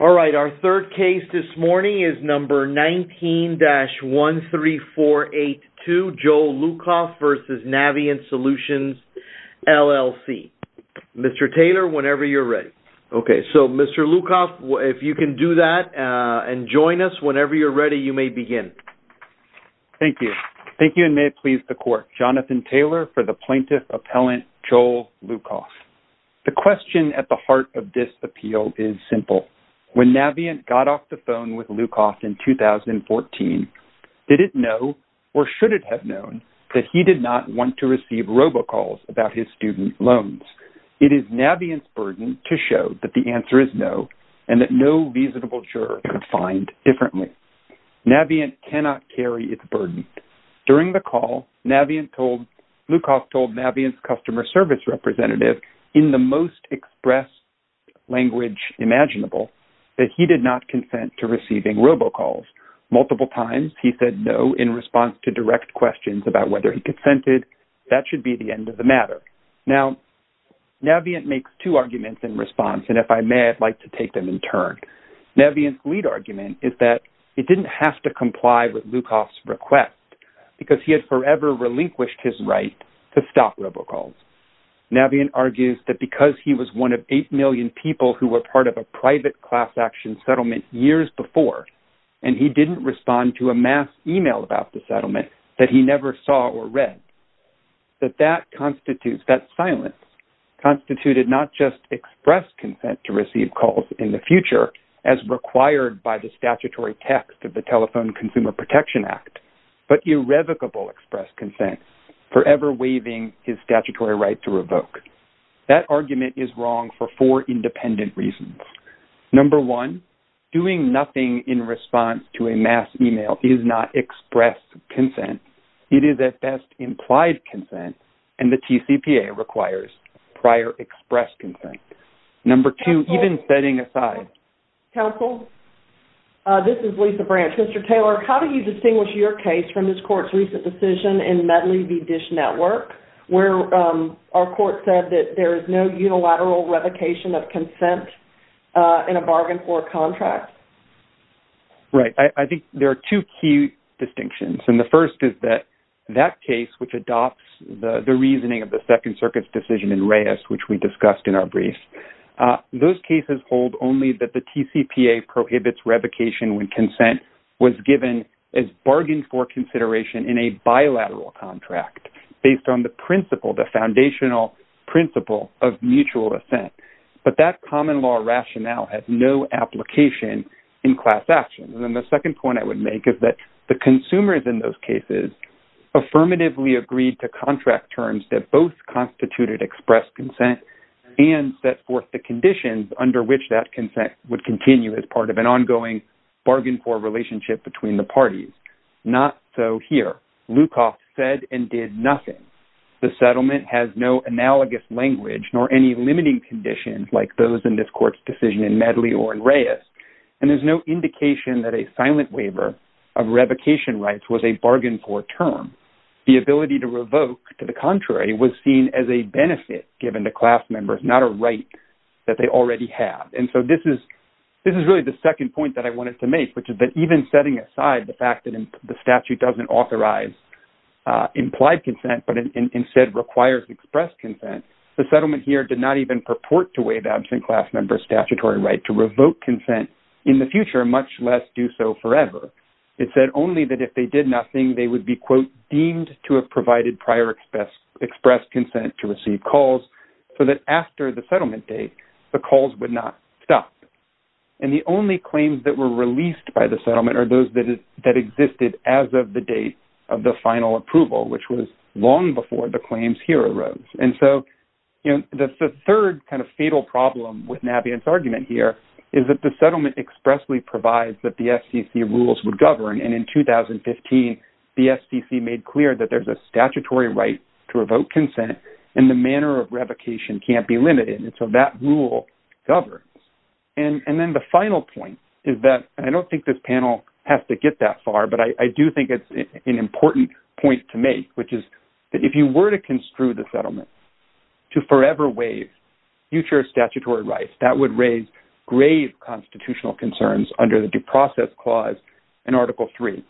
All right, our third case this morning is number 19-13482, Joel Lucoff v. Navient Solutions, LLC. Mr. Taylor, whenever you're ready. Okay, so Mr. Lucoff, if you can do that and join us, whenever you're ready, you may begin. Thank you. Thank you, and may it please the court. Jonathan Taylor for the plaintiff appellant, Joel Lucoff. The question at the heart of this When Navient got off the phone with Lucoff in 2014, did it know, or should it have known, that he did not want to receive robocalls about his student loans? It is Navient's burden to show that the answer is no, and that no reasonable juror could find differently. Navient cannot carry its burden. During the call, Navient told, Lucoff told Navient's customer service representative in the most expressed language imaginable, that he did not consent to receiving robocalls. Multiple times he said no in response to direct questions about whether he consented. That should be the end of the matter. Now, Navient makes two arguments in response, and if I may, I'd like to take them in turn. Navient's lead argument is that it didn't have to comply with Lucoff's request, because he had forever relinquished his right to stop robocalls. Navient argues that because he was one of eight million people who were part of a private class action settlement years before, and he didn't respond to a mass email about the settlement that he never saw or read, that that constitutes, that silence, constituted not just express consent to receive calls in the future, as required by the statutory text of the Telephone Consumer Protection Act, but irrevocable express consent, forever waiving his statutory right to revoke. That argument is wrong for four independent reasons. Number one, doing nothing in response to a mass email is not express consent. It is at best implied consent, and the TCPA requires prior express consent. Number two, even setting aside- This is Lisa Branch. Mr. Taylor, how do you distinguish your case from this court's recent decision in Medley v. Dish Network, where our court said that there is no unilateral revocation of consent in a bargain for a contract? Right. I think there are two key distinctions, and the first is that that case, which adopts the reasoning of the Second Circuit's decision in Reyes, which we discussed in our brief, those cases hold only that the TCPA prohibits revocation when consent was given as bargain for consideration in a bilateral contract, based on the principle, the foundational principle of mutual assent. But that common law rationale has no application in class action. And then the second point I would make is that the consumers in those cases affirmatively agreed to contract terms that both constituted express consent and set forth the conditions under which that consent would continue as part of an ongoing bargain for relationship between the parties. Not so here. Lukoff said and did nothing. The settlement has no analogous language nor any limiting conditions like those in this court's decision in Medley or in Reyes. And there's no indication that a silent waiver of revocation rights was a bargain for term. The ability to revoke to the contrary was seen as a benefit given to class members, not a right that they already have. And so this is really the second point that I wanted to make, which is that even setting aside the fact that the statute doesn't authorize implied consent, but instead requires express consent, the settlement here did not even purport to waive absent class members statutory right to revoke consent in the future, much less do so forever. It said only that if they did nothing, they would be, quote, deemed to have provided prior express consent to receive calls so that after the settlement date, the calls would not stop. And the only claims that were released by the settlement are those that existed as of the date of the final approval, which was long before the claims here arose. And so the third kind of fatal problem with Nabihan's argument here is that the settlement expressly provides that the FCC rules would govern. And in 2015, the FCC made clear that there's a statutory right to revoke consent and the manner of revocation can't be limited. And so that rule governs. And then the final point is that, and I don't think this panel has to get that far, but I do think it's an important point to make, which is that if you were to construe the settlement to forever waive future statutory rights, that would raise grave constitutional concerns under the due process clause in Article III.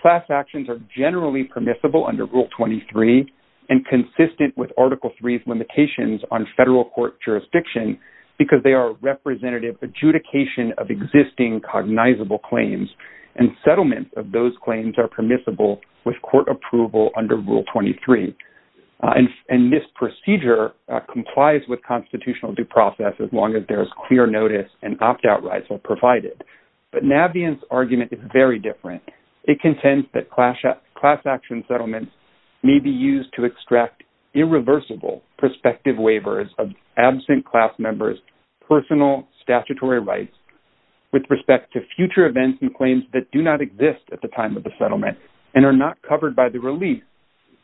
Class actions are generally permissible under Rule 23 and consistent with Article III's limitations on federal court jurisdiction because they are representative adjudication of existing cognizable claims. And settlements of those claims are permissible with court approval under Rule 23. And this procedure complies with constitutional due process as long as there's clear notice and opt-out rights are provided. But Nabihan's argument is very different. It contends that class action settlements may be used to extract irreversible prospective waivers of absent class members' personal statutory rights with respect to future events and claims that do not exist at the time of the settlement and are not covered by the release,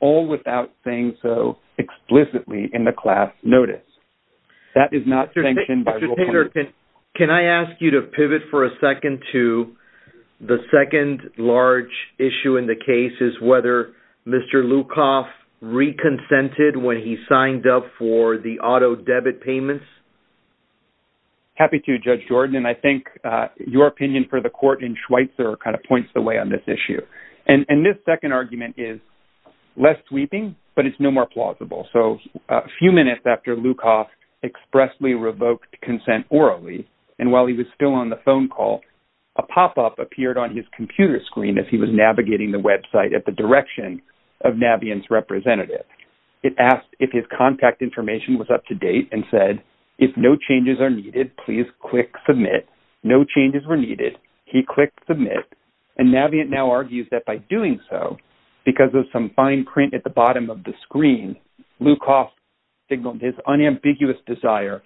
all without saying so explicitly in the class notice. That is not sanctioned by Rule 23. Can I ask you to pivot for a second to the second large issue in the case is whether Mr. Lukoff reconsented when he signed up for the auto debit payments? Happy to, Judge Jordan. And I think your opinion for the court in Schweitzer kind of points the way on this issue. And this second argument is less sweeping, but it's no more plausible. So a few minutes after Lukoff expressly revoked consent orally, and while he was still on the phone call, a pop-up appeared on his computer screen as he was navigating the website at the direction of Nabihan's representative. It asked if his contact information was up to date and said, if no changes are needed, please click submit. No changes were needed. He clicked submit. And Nabihan now argues that by doing so, because of some fine print at the bottom of the screen, Lukoff signaled his unambiguous desire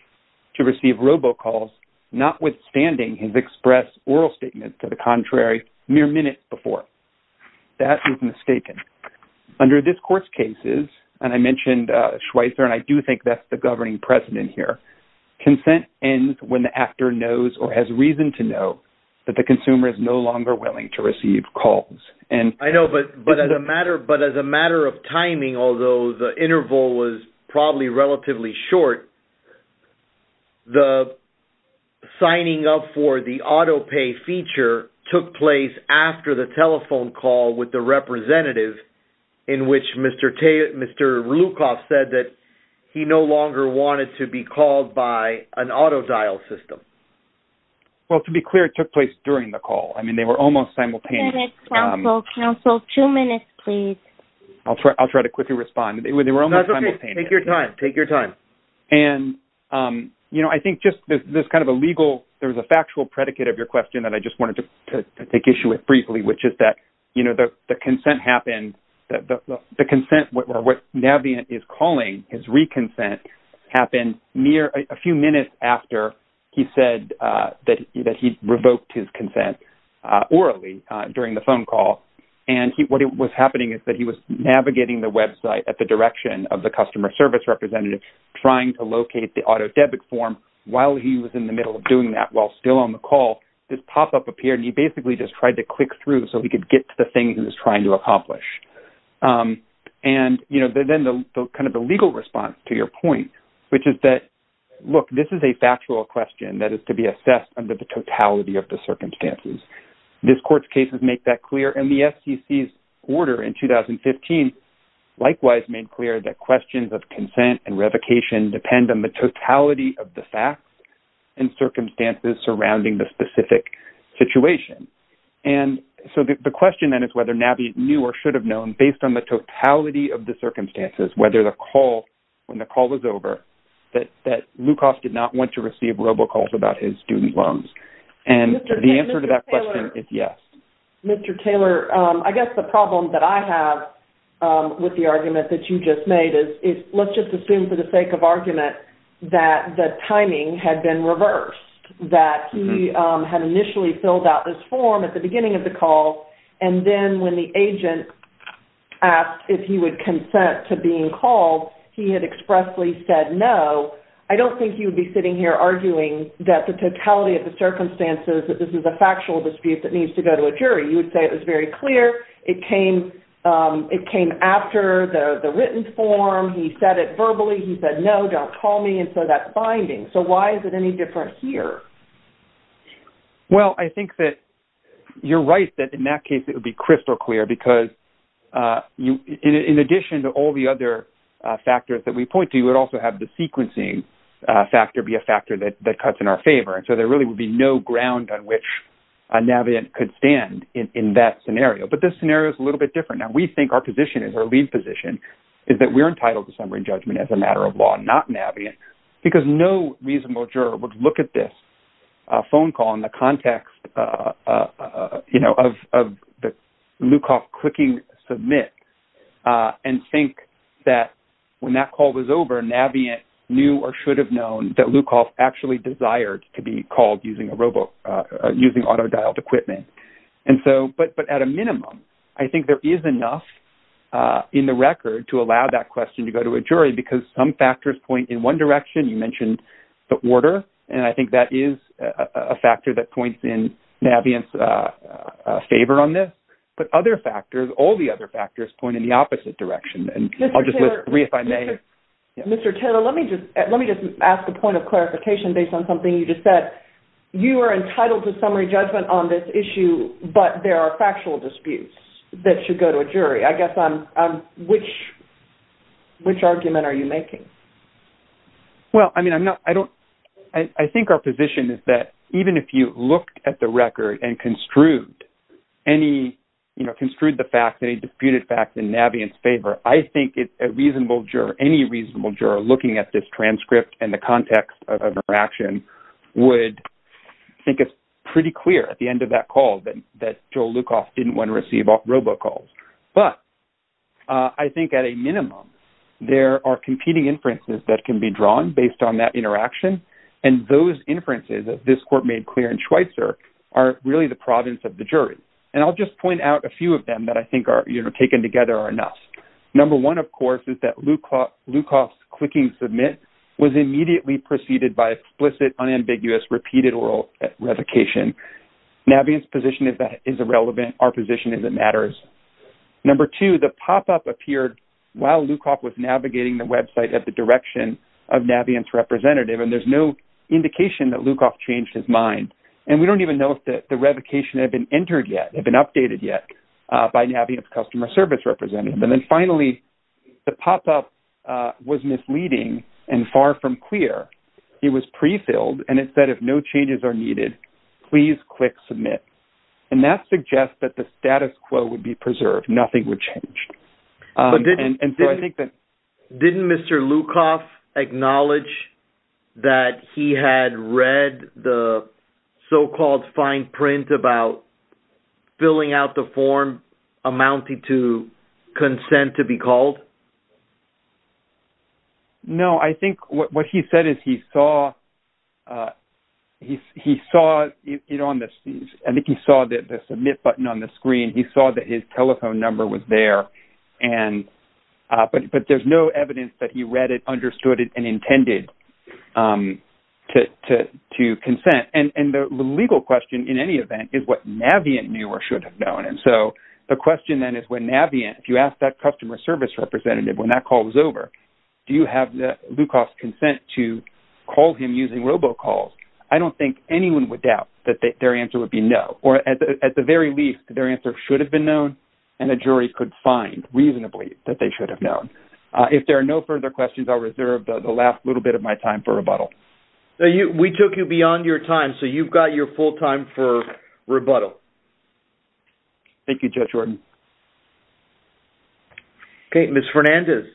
to receive robocalls, notwithstanding his express oral statement to the contrary mere minutes before. That is mistaken. Under this court's cases, and I mentioned Schweitzer, and I do think that's the governing precedent here, consent ends when the actor knows or has reason to know that the consumer is no longer willing to receive calls. I know, but as a matter of timing, although the interval was probably relatively short, the signing up for the auto pay feature took place after the telephone call with the representative in which Mr. Lukoff said that he no longer wanted to be called by an auto dial system. Well, to be clear, it took place during the call. I mean, they were almost simultaneous. Counsel, two minutes, please. I'll try to quickly respond. They were almost simultaneous. Take your time. Take your time. And, you know, I think just there's kind of a legal, there's a factual predicate of your question that I just wanted to take issue with briefly, which is that, you know, the consent happened, the consent, or what Nabihan is calling his re-consent happened a few minutes after he said that he revoked his consent orally during the phone call. And what was happening is that he was navigating the website at the direction of the customer service representative trying to locate the auto debit form while he was in the middle of doing that while still on the call. This pop-up appeared and he basically just tried to click through so he could get to the thing he was trying to accomplish. And, you know, then the kind of the legal response to your point, which is that, look, this is a factual question that is to be assessed under the totality of the circumstances. This court's cases make that clear. And the FCC's order in 2015, likewise, made clear that questions of consent and revocation depend on the totality of the facts and circumstances surrounding the specific situation. And so the question then is whether Nabi knew or should have known based on the totality of the circumstances, whether the call, when the call was over, that Lukasz did not want to receive robocalls about his student loans. And the answer to that question is yes. Mr. Taylor, I guess the problem that I have with the argument that you just made is let's just assume for the sake of argument that the timing had been reversed, that he had initially filled out this form at the beginning of the call. And then when the agent asked if he would consent to being called, he had expressly said no. I don't think he would be sitting here arguing that the totality of the circumstances, that this is a factual dispute that needs to go to a jury. You would say it was very clear. It came after the written form. He said it verbally. He said, no, don't call me. And so why is it any different here? Well, I think that you're right that in that case, it would be crystal clear because in addition to all the other factors that we point to, you would also have the sequencing factor be a factor that cuts in our favor. And so there really would be no ground on which Navient could stand in that scenario. But this scenario is a little bit different. Now we think our position is, our lead position is that we're entitled to summary judgment as a matter of law, not Navient, because no reasonable juror would look at this phone call in the context of the Lukoff clicking submit and think that when that call was over, Navient knew or should have known that Lukoff actually desired to be called using auto-dialed equipment. But at a minimum, I think there is enough in the record to allow that question to go to a jury because some factors point in one direction. You mentioned the order. And I think that is a factor that points in Navient's favor on this. But other factors, all the other factors point in the opposite direction. And I'll just list three if I may. Mr. Taylor, let me just ask a point of clarification based on something you just said. You are entitled to summary judgment on this issue, but there are factual disputes that should go to a jury. I guess I'm, which argument are you making? Well, I mean, I'm not, I don't, I think our position is that even if you looked at the record and construed any, you know, construed the facts, any disputed facts in Navient's favor, I think it's a reasonable juror, any reasonable juror looking at this transcript and the context of an action would think it's pretty clear at the end of that call that Joel at a minimum, there are competing inferences that can be drawn based on that interaction. And those inferences of this court made clear in Schweitzer are really the province of the jury. And I'll just point out a few of them that I think are, you know, taken together are enough. Number one, of course, is that Lukoff's clicking submit was immediately preceded by explicit, unambiguous, repeated oral revocation. Navient's position is that is irrelevant. Our position is that it matters. Number two, the pop-up appeared while Lukoff was navigating the website at the direction of Navient's representative. And there's no indication that Lukoff changed his mind. And we don't even know if the revocation had been entered yet, had been updated yet by Navient's customer service representative. And then finally, the pop-up was misleading and far from clear. It was prefilled. And it said, if no changes are needed, please click submit. And that suggests that the status quo would be preserved. Nothing would change. And so I think that... Didn't Mr. Lukoff acknowledge that he had read the so-called fine print about filling out the form amounting to consent to be called? No. I think what he said is he saw it on the... I think he saw the submit button on the screen. He saw that his telephone number was there. But there's no evidence that he read it, understood it, and intended to consent. And the legal question, in any event, is what Navient knew or should have known. And so the question then is when Navient, if you ask that customer service representative when that call was over, do you have Lukoff's consent to call him using robocalls? I don't think anyone would doubt that their answer would be no. Or at the very least, their answer should have been known and a jury could find reasonably that they should have known. If there are no further questions, I'll reserve the last little bit of my time for rebuttal. We took you beyond your time, so you've got your full time for rebuttal. Thank you, Judge Ordon. Okay, Ms. Fernandez.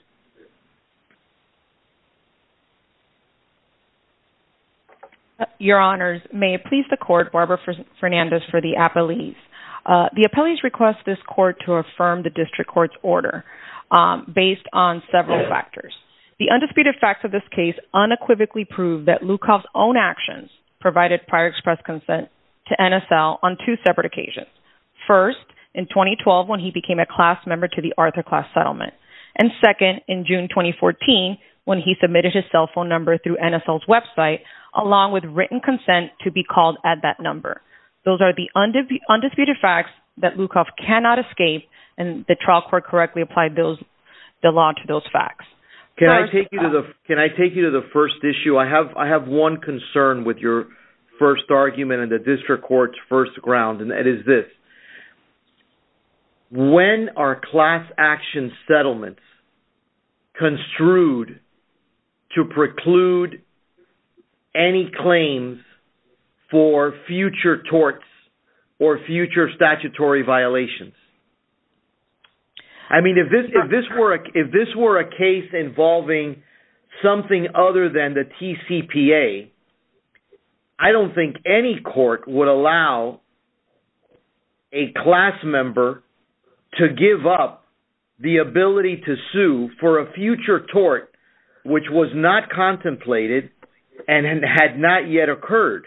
Your Honors, may it please the court, Barbara Fernandez for the appellees. The appellees request this court to affirm the district court's order based on several factors. The undisputed facts of this case unequivocally prove that Lukoff's own actions provided prior consent to NSL on two separate occasions. First, in 2012 when he became a class member to the Arthur Class Settlement. And second, in June 2014, when he submitted his cell phone number through NSL's website, along with written consent to be called at that number. Those are the undisputed facts that Lukoff cannot escape and the trial court correctly applied the law to those facts. Can I take you to the first issue? I have one concern with your first argument and the district court's first ground, and that is this. When are class action settlements construed to preclude any claims for future torts or future statutory violations? I mean, if this were a case involving something other than the TCPA, I don't think any court would allow a class member to give up the ability to sue for a future tort which was not contemplated and had not yet occurred.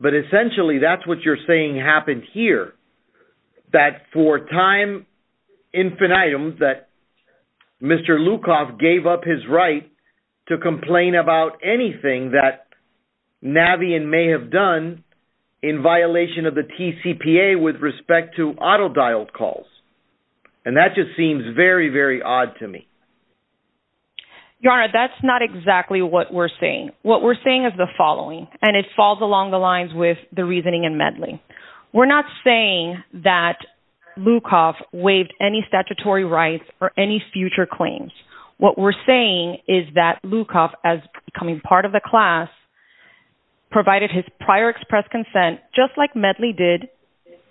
But essentially, that's what you're saying happened here, that for time infinitum, that Mr. Lukoff gave up his right to complain about anything that Navien may have done in violation of the TCPA with respect to auto-dialed calls. And that just seems very, very odd to me. Your Honor, that's not exactly what we're saying. What we're saying is the following, and it falls along the lines with the reasoning in Medley. We're not saying that Lukoff waived any statutory rights or any future claims. What we're saying is that Lukoff, as becoming part of the class, provided his prior express consent just like Medley did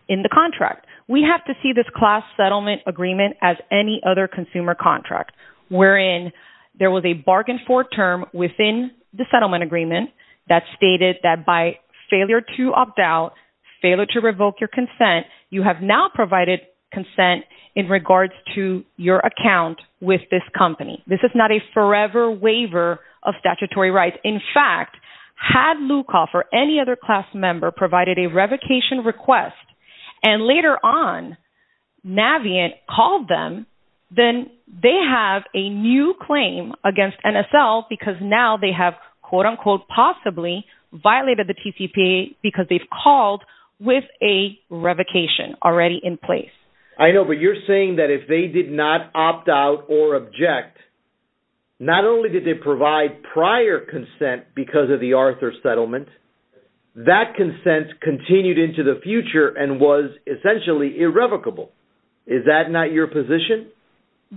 in the contract. We have to see this class settlement agreement as any other consumer contract wherein there was a bargain for term within the settlement agreement that stated that by failure to opt out, failure to revoke your consent, you have now provided consent in regards to your account with this company. This is not a forever waiver of statutory rights. In fact, had Lukoff or any other class member provided a revocation on Navien called them, then they have a new claim against NSL because now they have quote-unquote possibly violated the TCPA because they've called with a revocation already in place. I know, but you're saying that if they did not opt out or object, not only did they provide prior consent because of the Arthur settlement, that consent continued into the future and was essentially irrevocable. Is that not your position?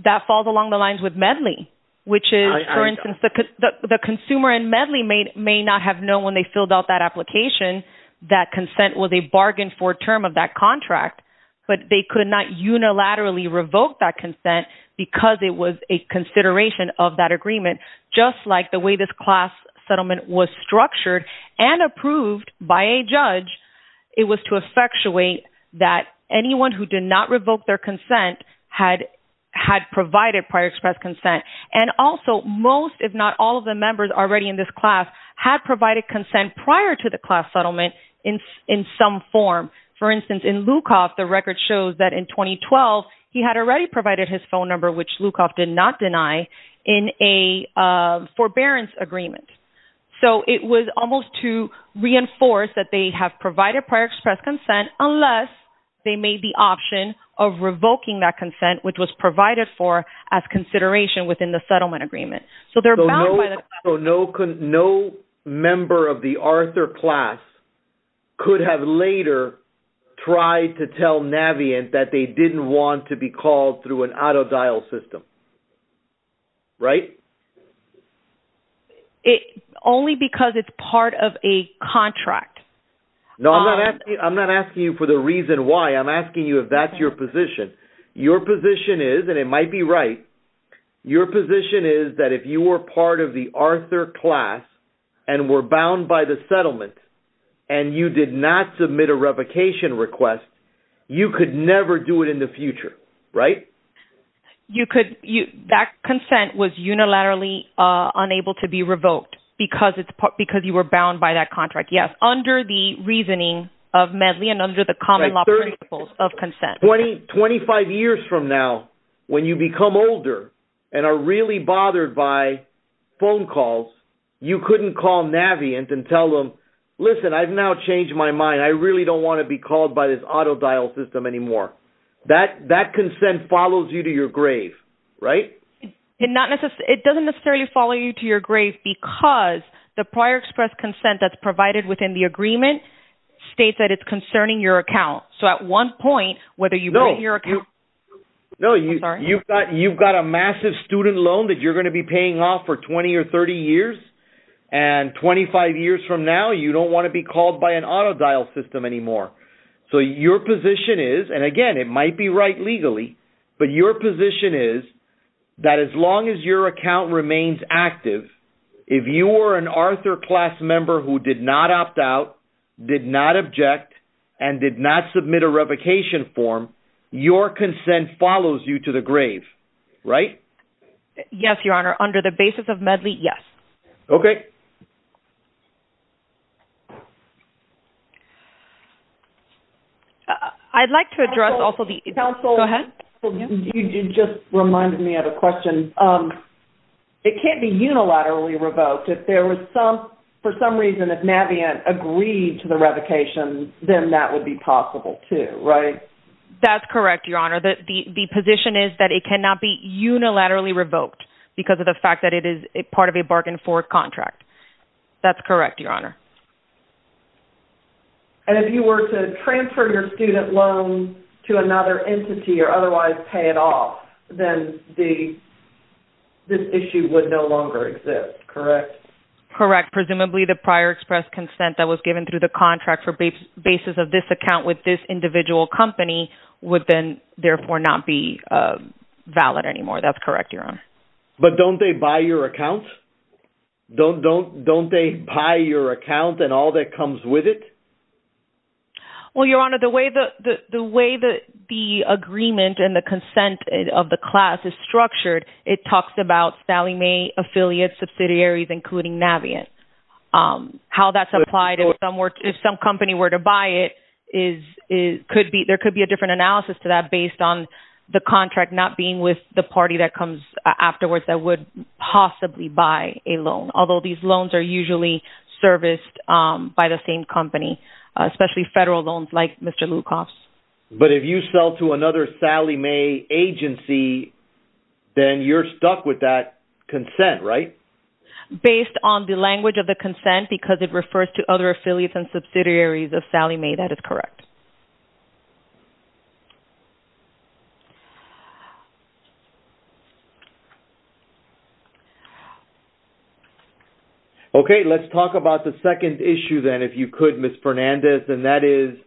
That falls along the lines with Medley, which is, for instance, the consumer in Medley may not have known when they filled out that application that consent was a bargain for term of that contract, but they could not unilaterally revoke that consent because it was a consideration of that and approved by a judge. It was to effectuate that anyone who did not revoke their consent had provided prior expressed consent. And also most, if not all of the members already in this class had provided consent prior to the class settlement in some form. For instance, in Lukoff, the record shows that in 2012, he had already provided his phone number, which Lukoff did not reinforce that they have provided prior expressed consent unless they made the option of revoking that consent, which was provided for as consideration within the settlement agreement. No member of the Arthur class could have later tried to tell Navient that they didn't want to call through an auto-dial system. Right? Only because it's part of a contract. No, I'm not asking you for the reason why. I'm asking you if that's your position. Your position is, and it might be right, your position is that if you were part of the Arthur class and were bound by the settlement and you did not submit a revocation request, you could never do it in the future. Right? That consent was unilaterally unable to be revoked because you were bound by that contract. Yes, under the reasoning of Medley and under the common law principles of consent. Twenty-five years from now, when you become older and are really bothered by phone calls, you couldn't call Navient and tell them, listen, I've now changed my mind. I don't want to be called by this auto-dial system anymore. That consent follows you to your grave. Right? It doesn't necessarily follow you to your grave because the prior express consent that's provided within the agreement states that it's concerning your account. So at one point, whether you bring your account... No, you've got a massive student loan that you're going to be paying off for 20 or 30 years. And 25 years from now, you don't want to be called by an auto-dial system anymore. So your position is, and again, it might be right legally, but your position is that as long as your account remains active, if you were an Arthur class member who did not opt out, did not object, and did not submit a revocation form, your consent follows you to the grave. Right? Yes, Your Honor. Under the basis of Medley, yes. Okay. Counsel, you just reminded me of a question. It can't be unilaterally revoked. If there was some, for some reason, if Navient agreed to the revocation, then that would be possible too. Right? That's correct, Your Honor. The position is that it cannot be unilaterally revoked because of the fact that it is part of a bargain for contract. That's correct, Your Honor. And if you were to transfer your student loan to another entity or otherwise pay it off, then the, this issue would no longer exist. Correct? Correct. Presumably the prior express consent that was given through the contract for basis of this account with this individual company would then therefore not be valid anymore. That's correct, Your Honor. But don't they buy your account and all that comes with it? Well, Your Honor, the way the agreement and the consent of the class is structured, it talks about Sallie Mae affiliates, subsidiaries, including Navient. How that's applied, if some company were to buy it, there could be a different analysis to that based on the contract not being with the party that comes afterwards that would possibly buy a loan. Although these loans are usually serviced by the same company, especially federal loans like Mr. Lukoff's. But if you sell to another Sallie Mae agency, then you're stuck with that consent, right? Based on the language of the consent, because it refers to other affiliates and subsidiaries of Sallie Mae, that is correct. Okay. Let's talk about the second issue then, if you could, Ms. Fernandez, and that is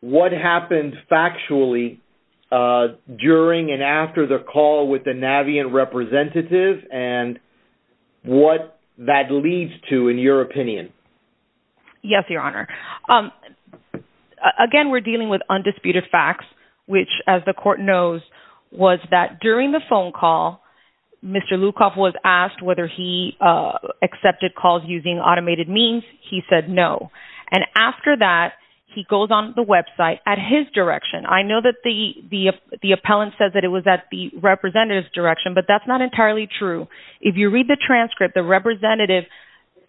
what happened factually during and after the call with the Navient representative and what that leads to, in your opinion? Yes, Your Honor. Again, we're dealing with undisputed facts, which as the court knows, was that during the phone call, Mr. Lukoff was asked whether he accepted calls using automated means. He said no. And after that, he goes on the website at his direction. I know that the appellant says that it was at the representative's direction, but that's not entirely true. If you read the transcript, the representative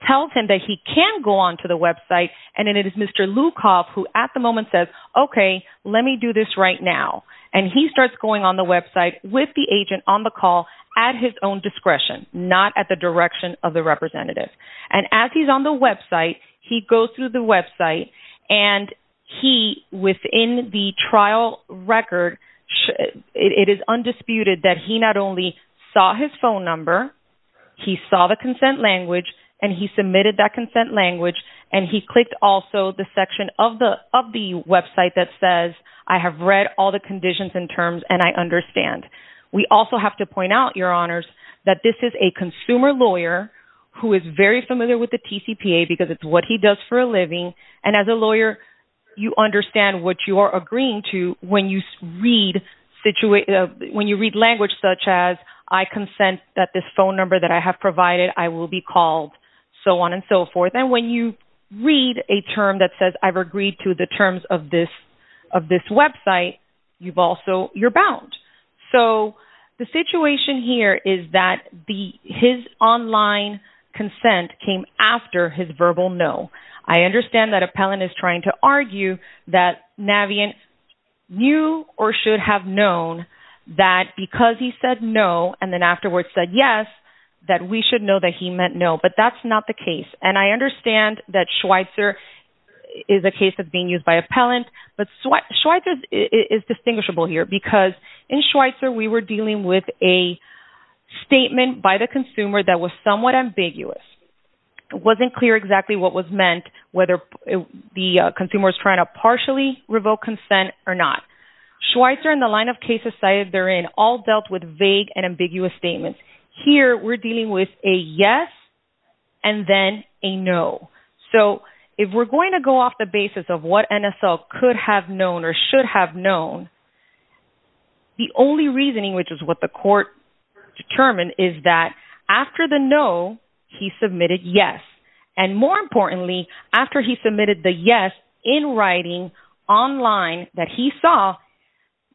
tells him that he can go on to the website and it is Mr. Lukoff who at the moment says, okay, let me do this right now. And he starts going on the website with the agent on call at his own discretion, not at the direction of the representative. And as he's on the website, he goes through the website and he, within the trial record, it is undisputed that he not only saw his phone number, he saw the consent language, and he submitted that consent language, and he clicked also the section of the website that says, I have read all the conditions and I understand. We also have to point out, your honors, that this is a consumer lawyer who is very familiar with the TCPA because it's what he does for a living. And as a lawyer, you understand what you are agreeing to when you read language such as I consent that this phone number that I have provided, I will be called so on and so forth. And when you read a term that says I've website, you've also, you're bound. So the situation here is that the, his online consent came after his verbal no. I understand that appellant is trying to argue that Navient knew or should have known that because he said no, and then afterwards said yes, that we should know that he meant no, but that's not the case. And I understand that Schweitzer is a case of being used by appellant, but Schweitzer is distinguishable here because in Schweitzer, we were dealing with a statement by the consumer that was somewhat ambiguous. It wasn't clear exactly what was meant, whether the consumer is trying to partially revoke consent or not. Schweitzer and the line of cases cited therein all dealt with vague and ambiguous statements. Here, we're dealing with a yes and then a no. So if we're going to go off the basis of what NSL could have known or should have known, the only reasoning, which is what the court determined is that after the no, he submitted yes. And more importantly, after he submitted the yes in writing online that he saw,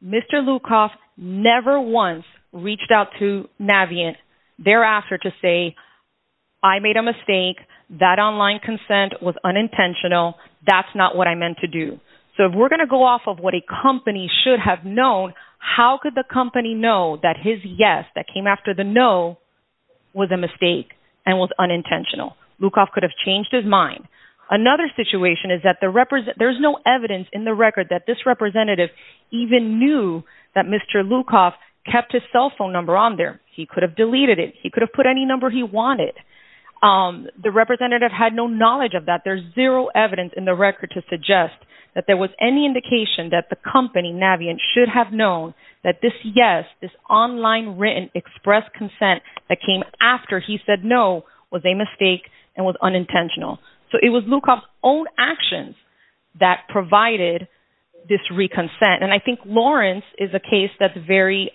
Mr. Lukoff never once reached out to Navient thereafter to say, I made a mistake. That online consent was unintentional. That's not what I meant to do. So if we're going to go off of what a company should have known, how could the company know that his yes that came after the no was a mistake and was unintentional? Lukoff could have changed his mind. Another situation is that there's no evidence in the He could have deleted it. He could have put any number he wanted. The representative had no knowledge of that. There's zero evidence in the record to suggest that there was any indication that the company, Navient, should have known that this yes, this online written express consent that came after he said no was a mistake and was unintentional. So it was Lukoff's own actions that provided this reconsent. And I think Lawrence is a case that's very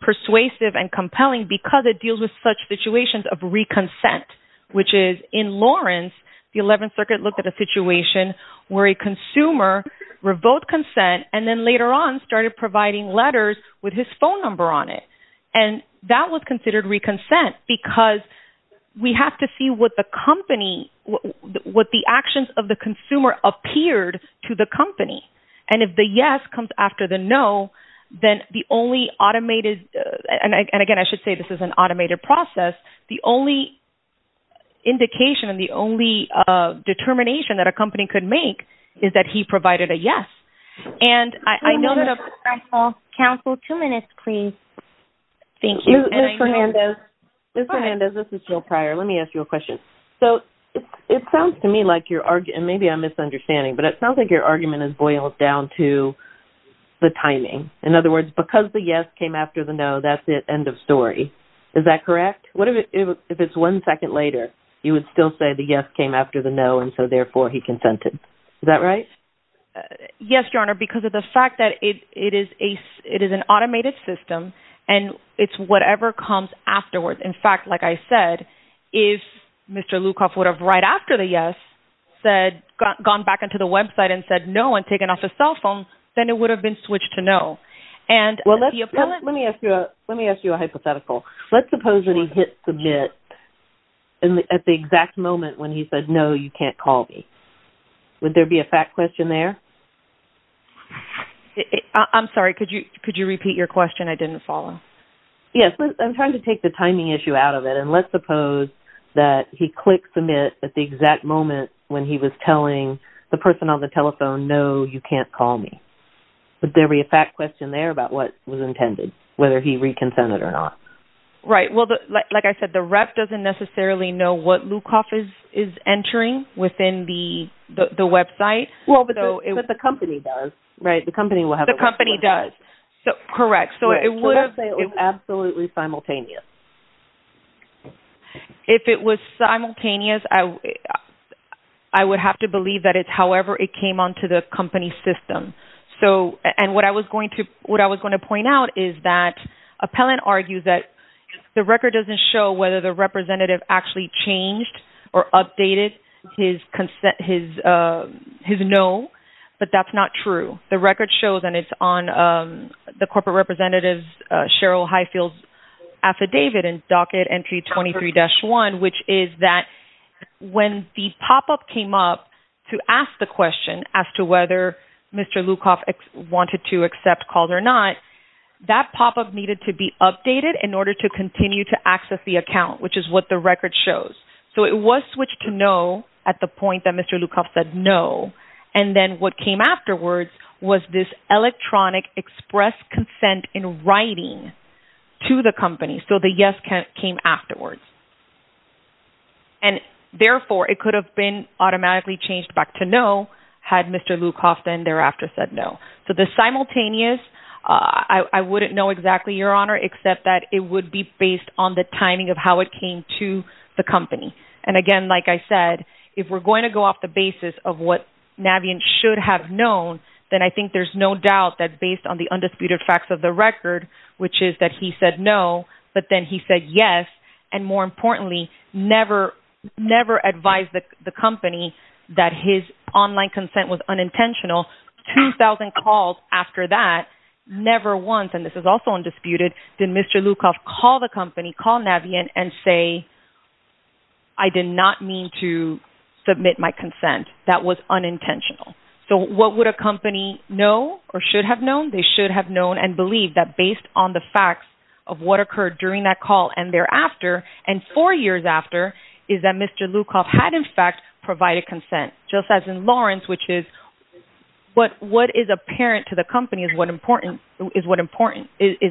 persuasive and compelling because it deals with such situations of reconsent, which is in Lawrence, the 11th Circuit looked at a situation where a consumer revoked consent and then later on started providing letters with his phone number on it. And that was considered reconsent because we have to see what the company, what the actions of the consumer appeared to the company. And if the yes comes after the no, then the only automated, and again, I should say this is an automated process, the only indication and the only determination that a company could make is that he provided a yes. And I know that... Counsel, two minutes, please. Thank you. Ms. Hernandez, this is Jill Pryor. Let me ask you a question. So it sounds to me like you're, and maybe I'm misunderstanding, but it sounds like your argument has boiled down to the timing. In other words, because the yes came after the no, that's the end of story. Is that correct? What if it's one second later, you would still say the yes came after the no, and so therefore he consented. Is that right? Yes, Your Honor, because of the fact that it is an automated system and it's whatever comes afterwards. In fact, like I said, if Mr. Lukoff would have right after the yes said, gone back into the website and said no and taken off his cell phone, then it would have been switched to no. Let me ask you a hypothetical. Let's suppose that he hit submit at the exact moment when he said, no, you can't call me. Would there be a fact question there? I'm sorry, could you repeat your question? I didn't follow. Yes, I'm trying to take the timing issue out of it, and let's suppose that he clicked submit at the exact moment when he was telling the person on the telephone, no, you can't call me. Would there be a fact question there about what was intended, whether he reconsented or not? Right, well, like I said, the rep doesn't necessarily know what Lukoff is entering within the website. Well, but the company does. Right, the company will have... Correct. So it would have been absolutely simultaneous. If it was simultaneous, I would have to believe that it's however it came onto the company system. And what I was going to point out is that appellant argues that the record doesn't show whether the representative actually changed or updated his no, but that's not true. The record shows, and it's on the corporate representative's Sheryl Highfield's affidavit in Docket Entry 23-1, which is that when the pop-up came up to ask the question as to whether Mr. Lukoff wanted to accept calls or not, that pop-up needed to be updated in order to continue to access the account, which is what the record shows. So it was switched to no at the point that Mr. Lukoff said no, and then what came afterwards was this electronic express consent in writing to the company. So the yes came afterwards. And therefore, it could have been automatically changed back to no had Mr. Lukoff then thereafter said no. So the simultaneous, I wouldn't know exactly, Your Honor, except that it would be based on the timing of how it came to the company. And again, like I said, if we're going to go off the basis of what Navient should have known, then I think there's no doubt that based on the undisputed facts of the record, which is that he said no, but then he said yes, and more importantly, never advised the company that his online consent was unintentional. Two thousand calls after that, never once, and this is also undisputed, did Mr. Lukoff call the company, call Navient and say, I did not mean to submit my consent. That was unintentional. So what would a company know or should have known? They should have known and believed that based on the facts of what occurred during that call and thereafter, and four years after, is that Mr. Lukoff had in fact provided consent, just as in Lawrence, which is what is apparent to the company is what is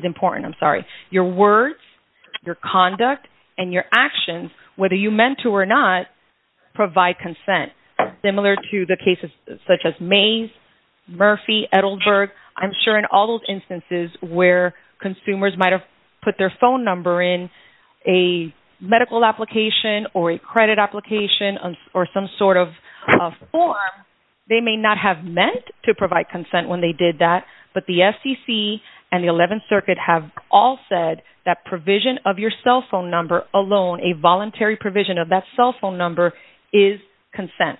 important. Your words, your conduct, and your actions, whether you meant to or not, provide consent. Similar to the cases such as Mays, Murphy, Edelberg, I'm sure in all those instances where consumers might have put their phone number in a medical application or a credit application or some sort of form, they may not have meant to provide consent when they did that, but the FCC and the Eleventh Circuit have all said that provision of your cell phone number alone, a voluntary provision of that cell phone number is consent.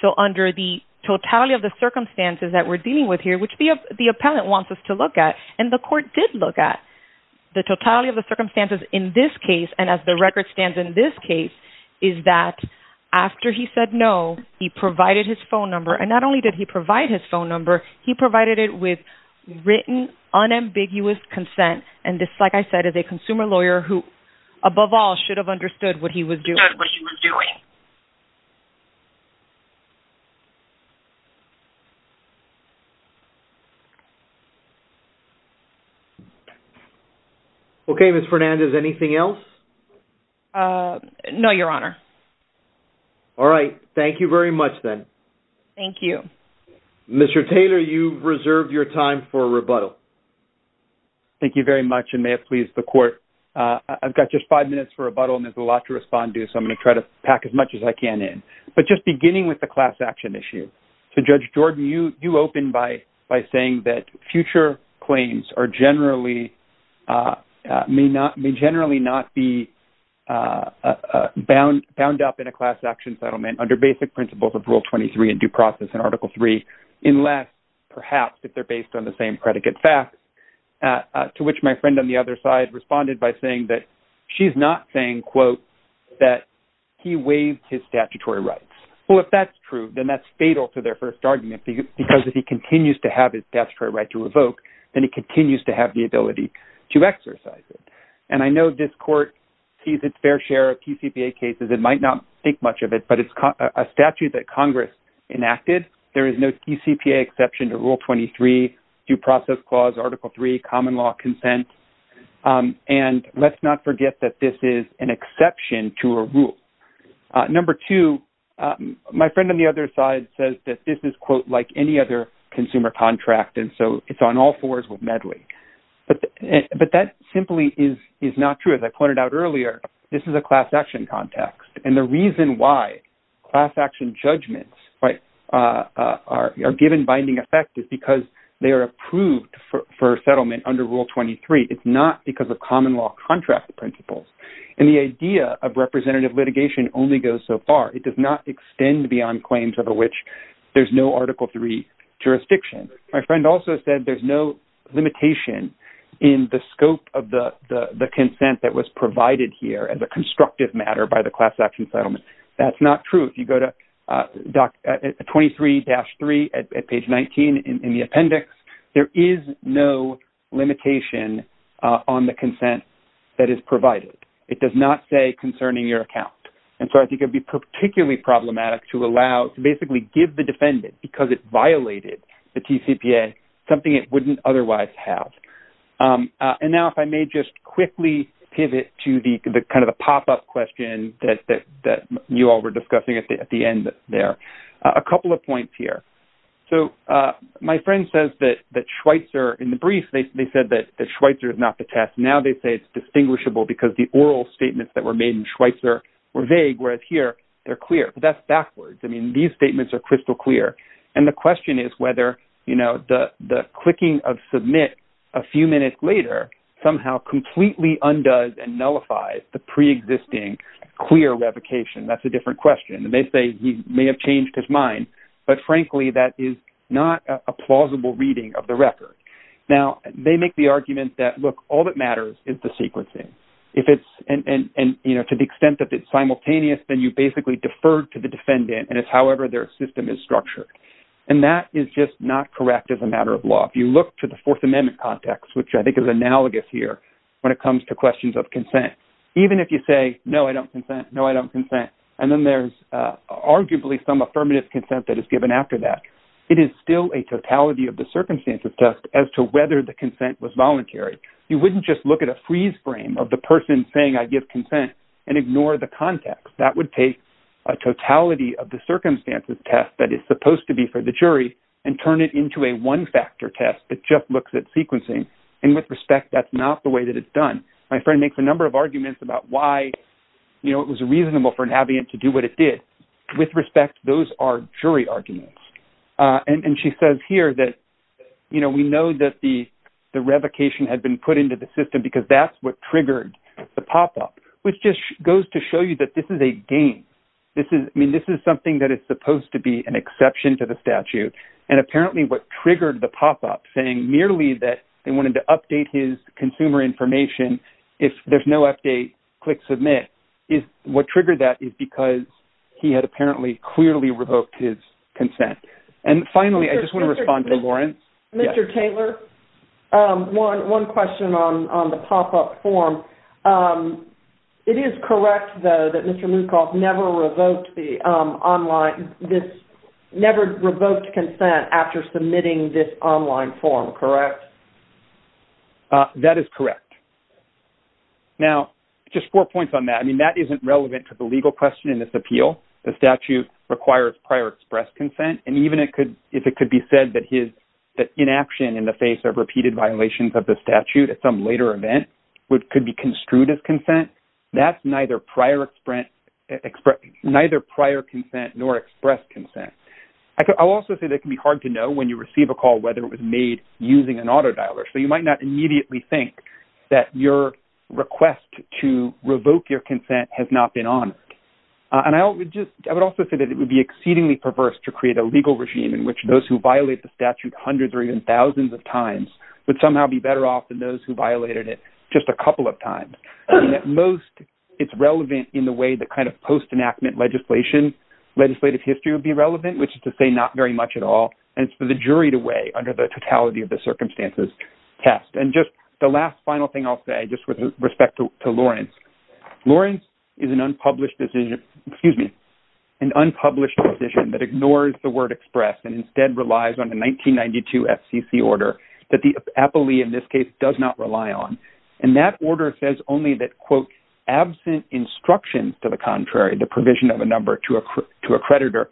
So under the totality of the circumstances that we're dealing with here, which the appellant wants us to look at, and the court did look at, the totality of the circumstances in this case, and as the record stands in this case, is that after he said no, he provided his phone number, and not only did he provide his phone number, he provided it with written, unambiguous consent, and this, like I said, is a consumer lawyer who, above all, should have understood what he was doing. Okay, Ms. Fernandez, anything else? No, Your Honor. All right, thank you very much, then. Thank you. Mr. Taylor, you've reserved your time for rebuttal. Thank you very much, and may it please the Court, I've got just five minutes for rebuttal, and there's a lot to respond to, so I'm going to try to pack as much as I can in. But just beginning with the class action issue, so Judge Jordan, you opened by saying that future claims are generally, may generally not be bound up in a class action settlement under basic principles of Rule 23 and due process in Article 3, unless, perhaps, if they're based on the same predicate fact, to which my friend on the other side responded by saying that she's not saying, quote, that he waived his statutory rights. Well, if that's true, then that's fatal to their first argument, because if he continues to have his statutory right to revoke, then he continues to have the ability to exercise it. And I know this Court sees its fair share of PCPA cases and might not think much of it, but it's a statute that Congress enacted. There is no PCPA exception to Rule 23, due process clause, Article 3, common law consent. And let's not forget that this is an exception to a rule. Number two, my friend on the other side says that this is, quote, like any other consumer contract, and so it's on all fours with Medley. But that simply is not true. As I pointed out earlier, this is a class action context. And the reason why class action judgments are given binding effect is because they are approved for settlement under Rule 23. It's not because of common law contract principles. And the idea of representative litigation only goes so far. It does not extend beyond claims over which there's no Article 3 jurisdiction. My friend also said there's no limitation in the scope of the consent that was provided here as a constructive matter by the class action settlement. That's not true. If you go to 23-3 at page 19 in the appendix, there is no limitation on the consent that is provided. It does not say concerning your account. And so I think it would be particularly problematic to allow, to basically give the defendant, because it violated the TCPA, something it wouldn't otherwise have. And now if I may just quickly pivot to the kind of the pop-up question that you all were discussing at the end there. A couple of points here. So my friend says that Schweitzer, in the brief, they said that Schweitzer is not the test. Now they say it's distinguishable because the oral statements that were made in Schweitzer were vague, whereas here they're clear. But that's backwards. I mean, these statements are crystal clear. And the question is whether the clicking of submit a few minutes later somehow completely undoes and nullifies the preexisting clear revocation. That's a different question. And they say he may have changed his mind. But frankly, that is not a plausible reading of the record. Now they make the argument that, look, all that matters is the sequencing. And to the extent that it's simultaneous, then you basically defer to the defendant and it's however their system is structured. And that is just not correct as a matter of law. If you look to the Fourth Amendment context, which I think is analogous here when it comes to questions of consent, even if you say, no, I don't consent, no, I don't consent, and then there's arguably some affirmative consent that is given after that, it is still a totality of the circumstances test as to whether the consent was voluntary. You wouldn't just look at a freeze frame of the person saying, I give consent and ignore the context. That would take a totality of the circumstances test that is supposed to be for the jury and turn it into a one-factor test that just looks at sequencing. And with respect, that's not the way that it's done. My friend makes a number of arguments about why it was reasonable for an aviant to do what it did. With respect, those are jury arguments. And she says here that we know that the revocation had been put into the system because that's what triggered the pop-up, which just goes to show you that this is a game. I mean, this is something that is supposed to be an exception to the statute. And apparently what triggered the pop-up saying merely that they wanted to update his consumer information, if there's no update, click submit, what triggered that is because he had apparently clearly revoked his consent. And finally, I just want to respond to Lawrence. Mr. Taylor, one question on the pop-up form. It is correct, though, that Mr. Mukauf never revoked the online, this never revoked consent after submitting this online form, correct? That is correct. Now, just four points on that. I mean, that isn't relevant to the legal question in this appeal. The statute requires prior express consent. And even if it could be said that inaction in the face of repeated violations of the statute at some later event could be construed as consent, that's neither prior consent nor express consent. I'll also say that it can be hard to know when you receive a call whether it was made using an auto dialer. So you might not immediately think that your request to revoke your consent has not been honored. And I would also say that it would be exceedingly perverse to create a legal regime in which those who violate the statute hundreds or even thousands of times would somehow be better off than those who violated it just a couple of times. I mean, at most, it's relevant in the way the kind of post-enactment legislative history would be relevant, which is to say not very much at all. And it's for the jury to weigh under the totality of the circumstances test. And just the last final thing I'll say, just with respect to Lawrence, Lawrence is an unpublished decision, excuse me, an unpublished decision that ignores the word express and instead relies on a 1992 FCC order that the appellee in this case does not rely on. And that order says only that, quote, absent instructions to the contrary, the provision of a number to a creditor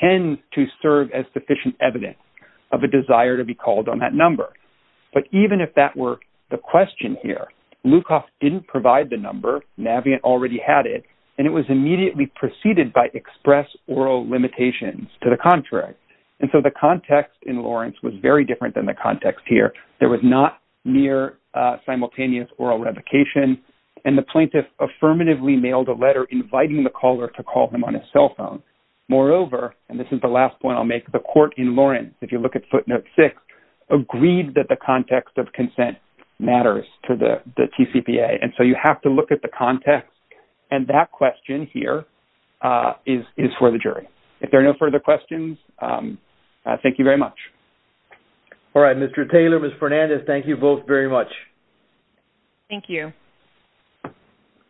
tends to serve as sufficient evidence of a desire to be called on that number. But even if that were the question here, Lukoff didn't provide the number, Navient already had it, and it was immediately preceded by express oral limitations to the contrary. And so the context in Lawrence was very different than the context here. There was not near simultaneous oral revocation and the plaintiff affirmatively mailed a letter inviting the caller to call him on his cell phone. Moreover, and this is the last point I'll make, the court in Lawrence, if you look at footnote six, agreed that the context of consent matters to the TCPA. And so you have to look at the context and that question here is for the jury. If there are no further questions, thank you very much. All right, Mr. Taylor, Ms. Fernandez, thank you both very much. Thank you.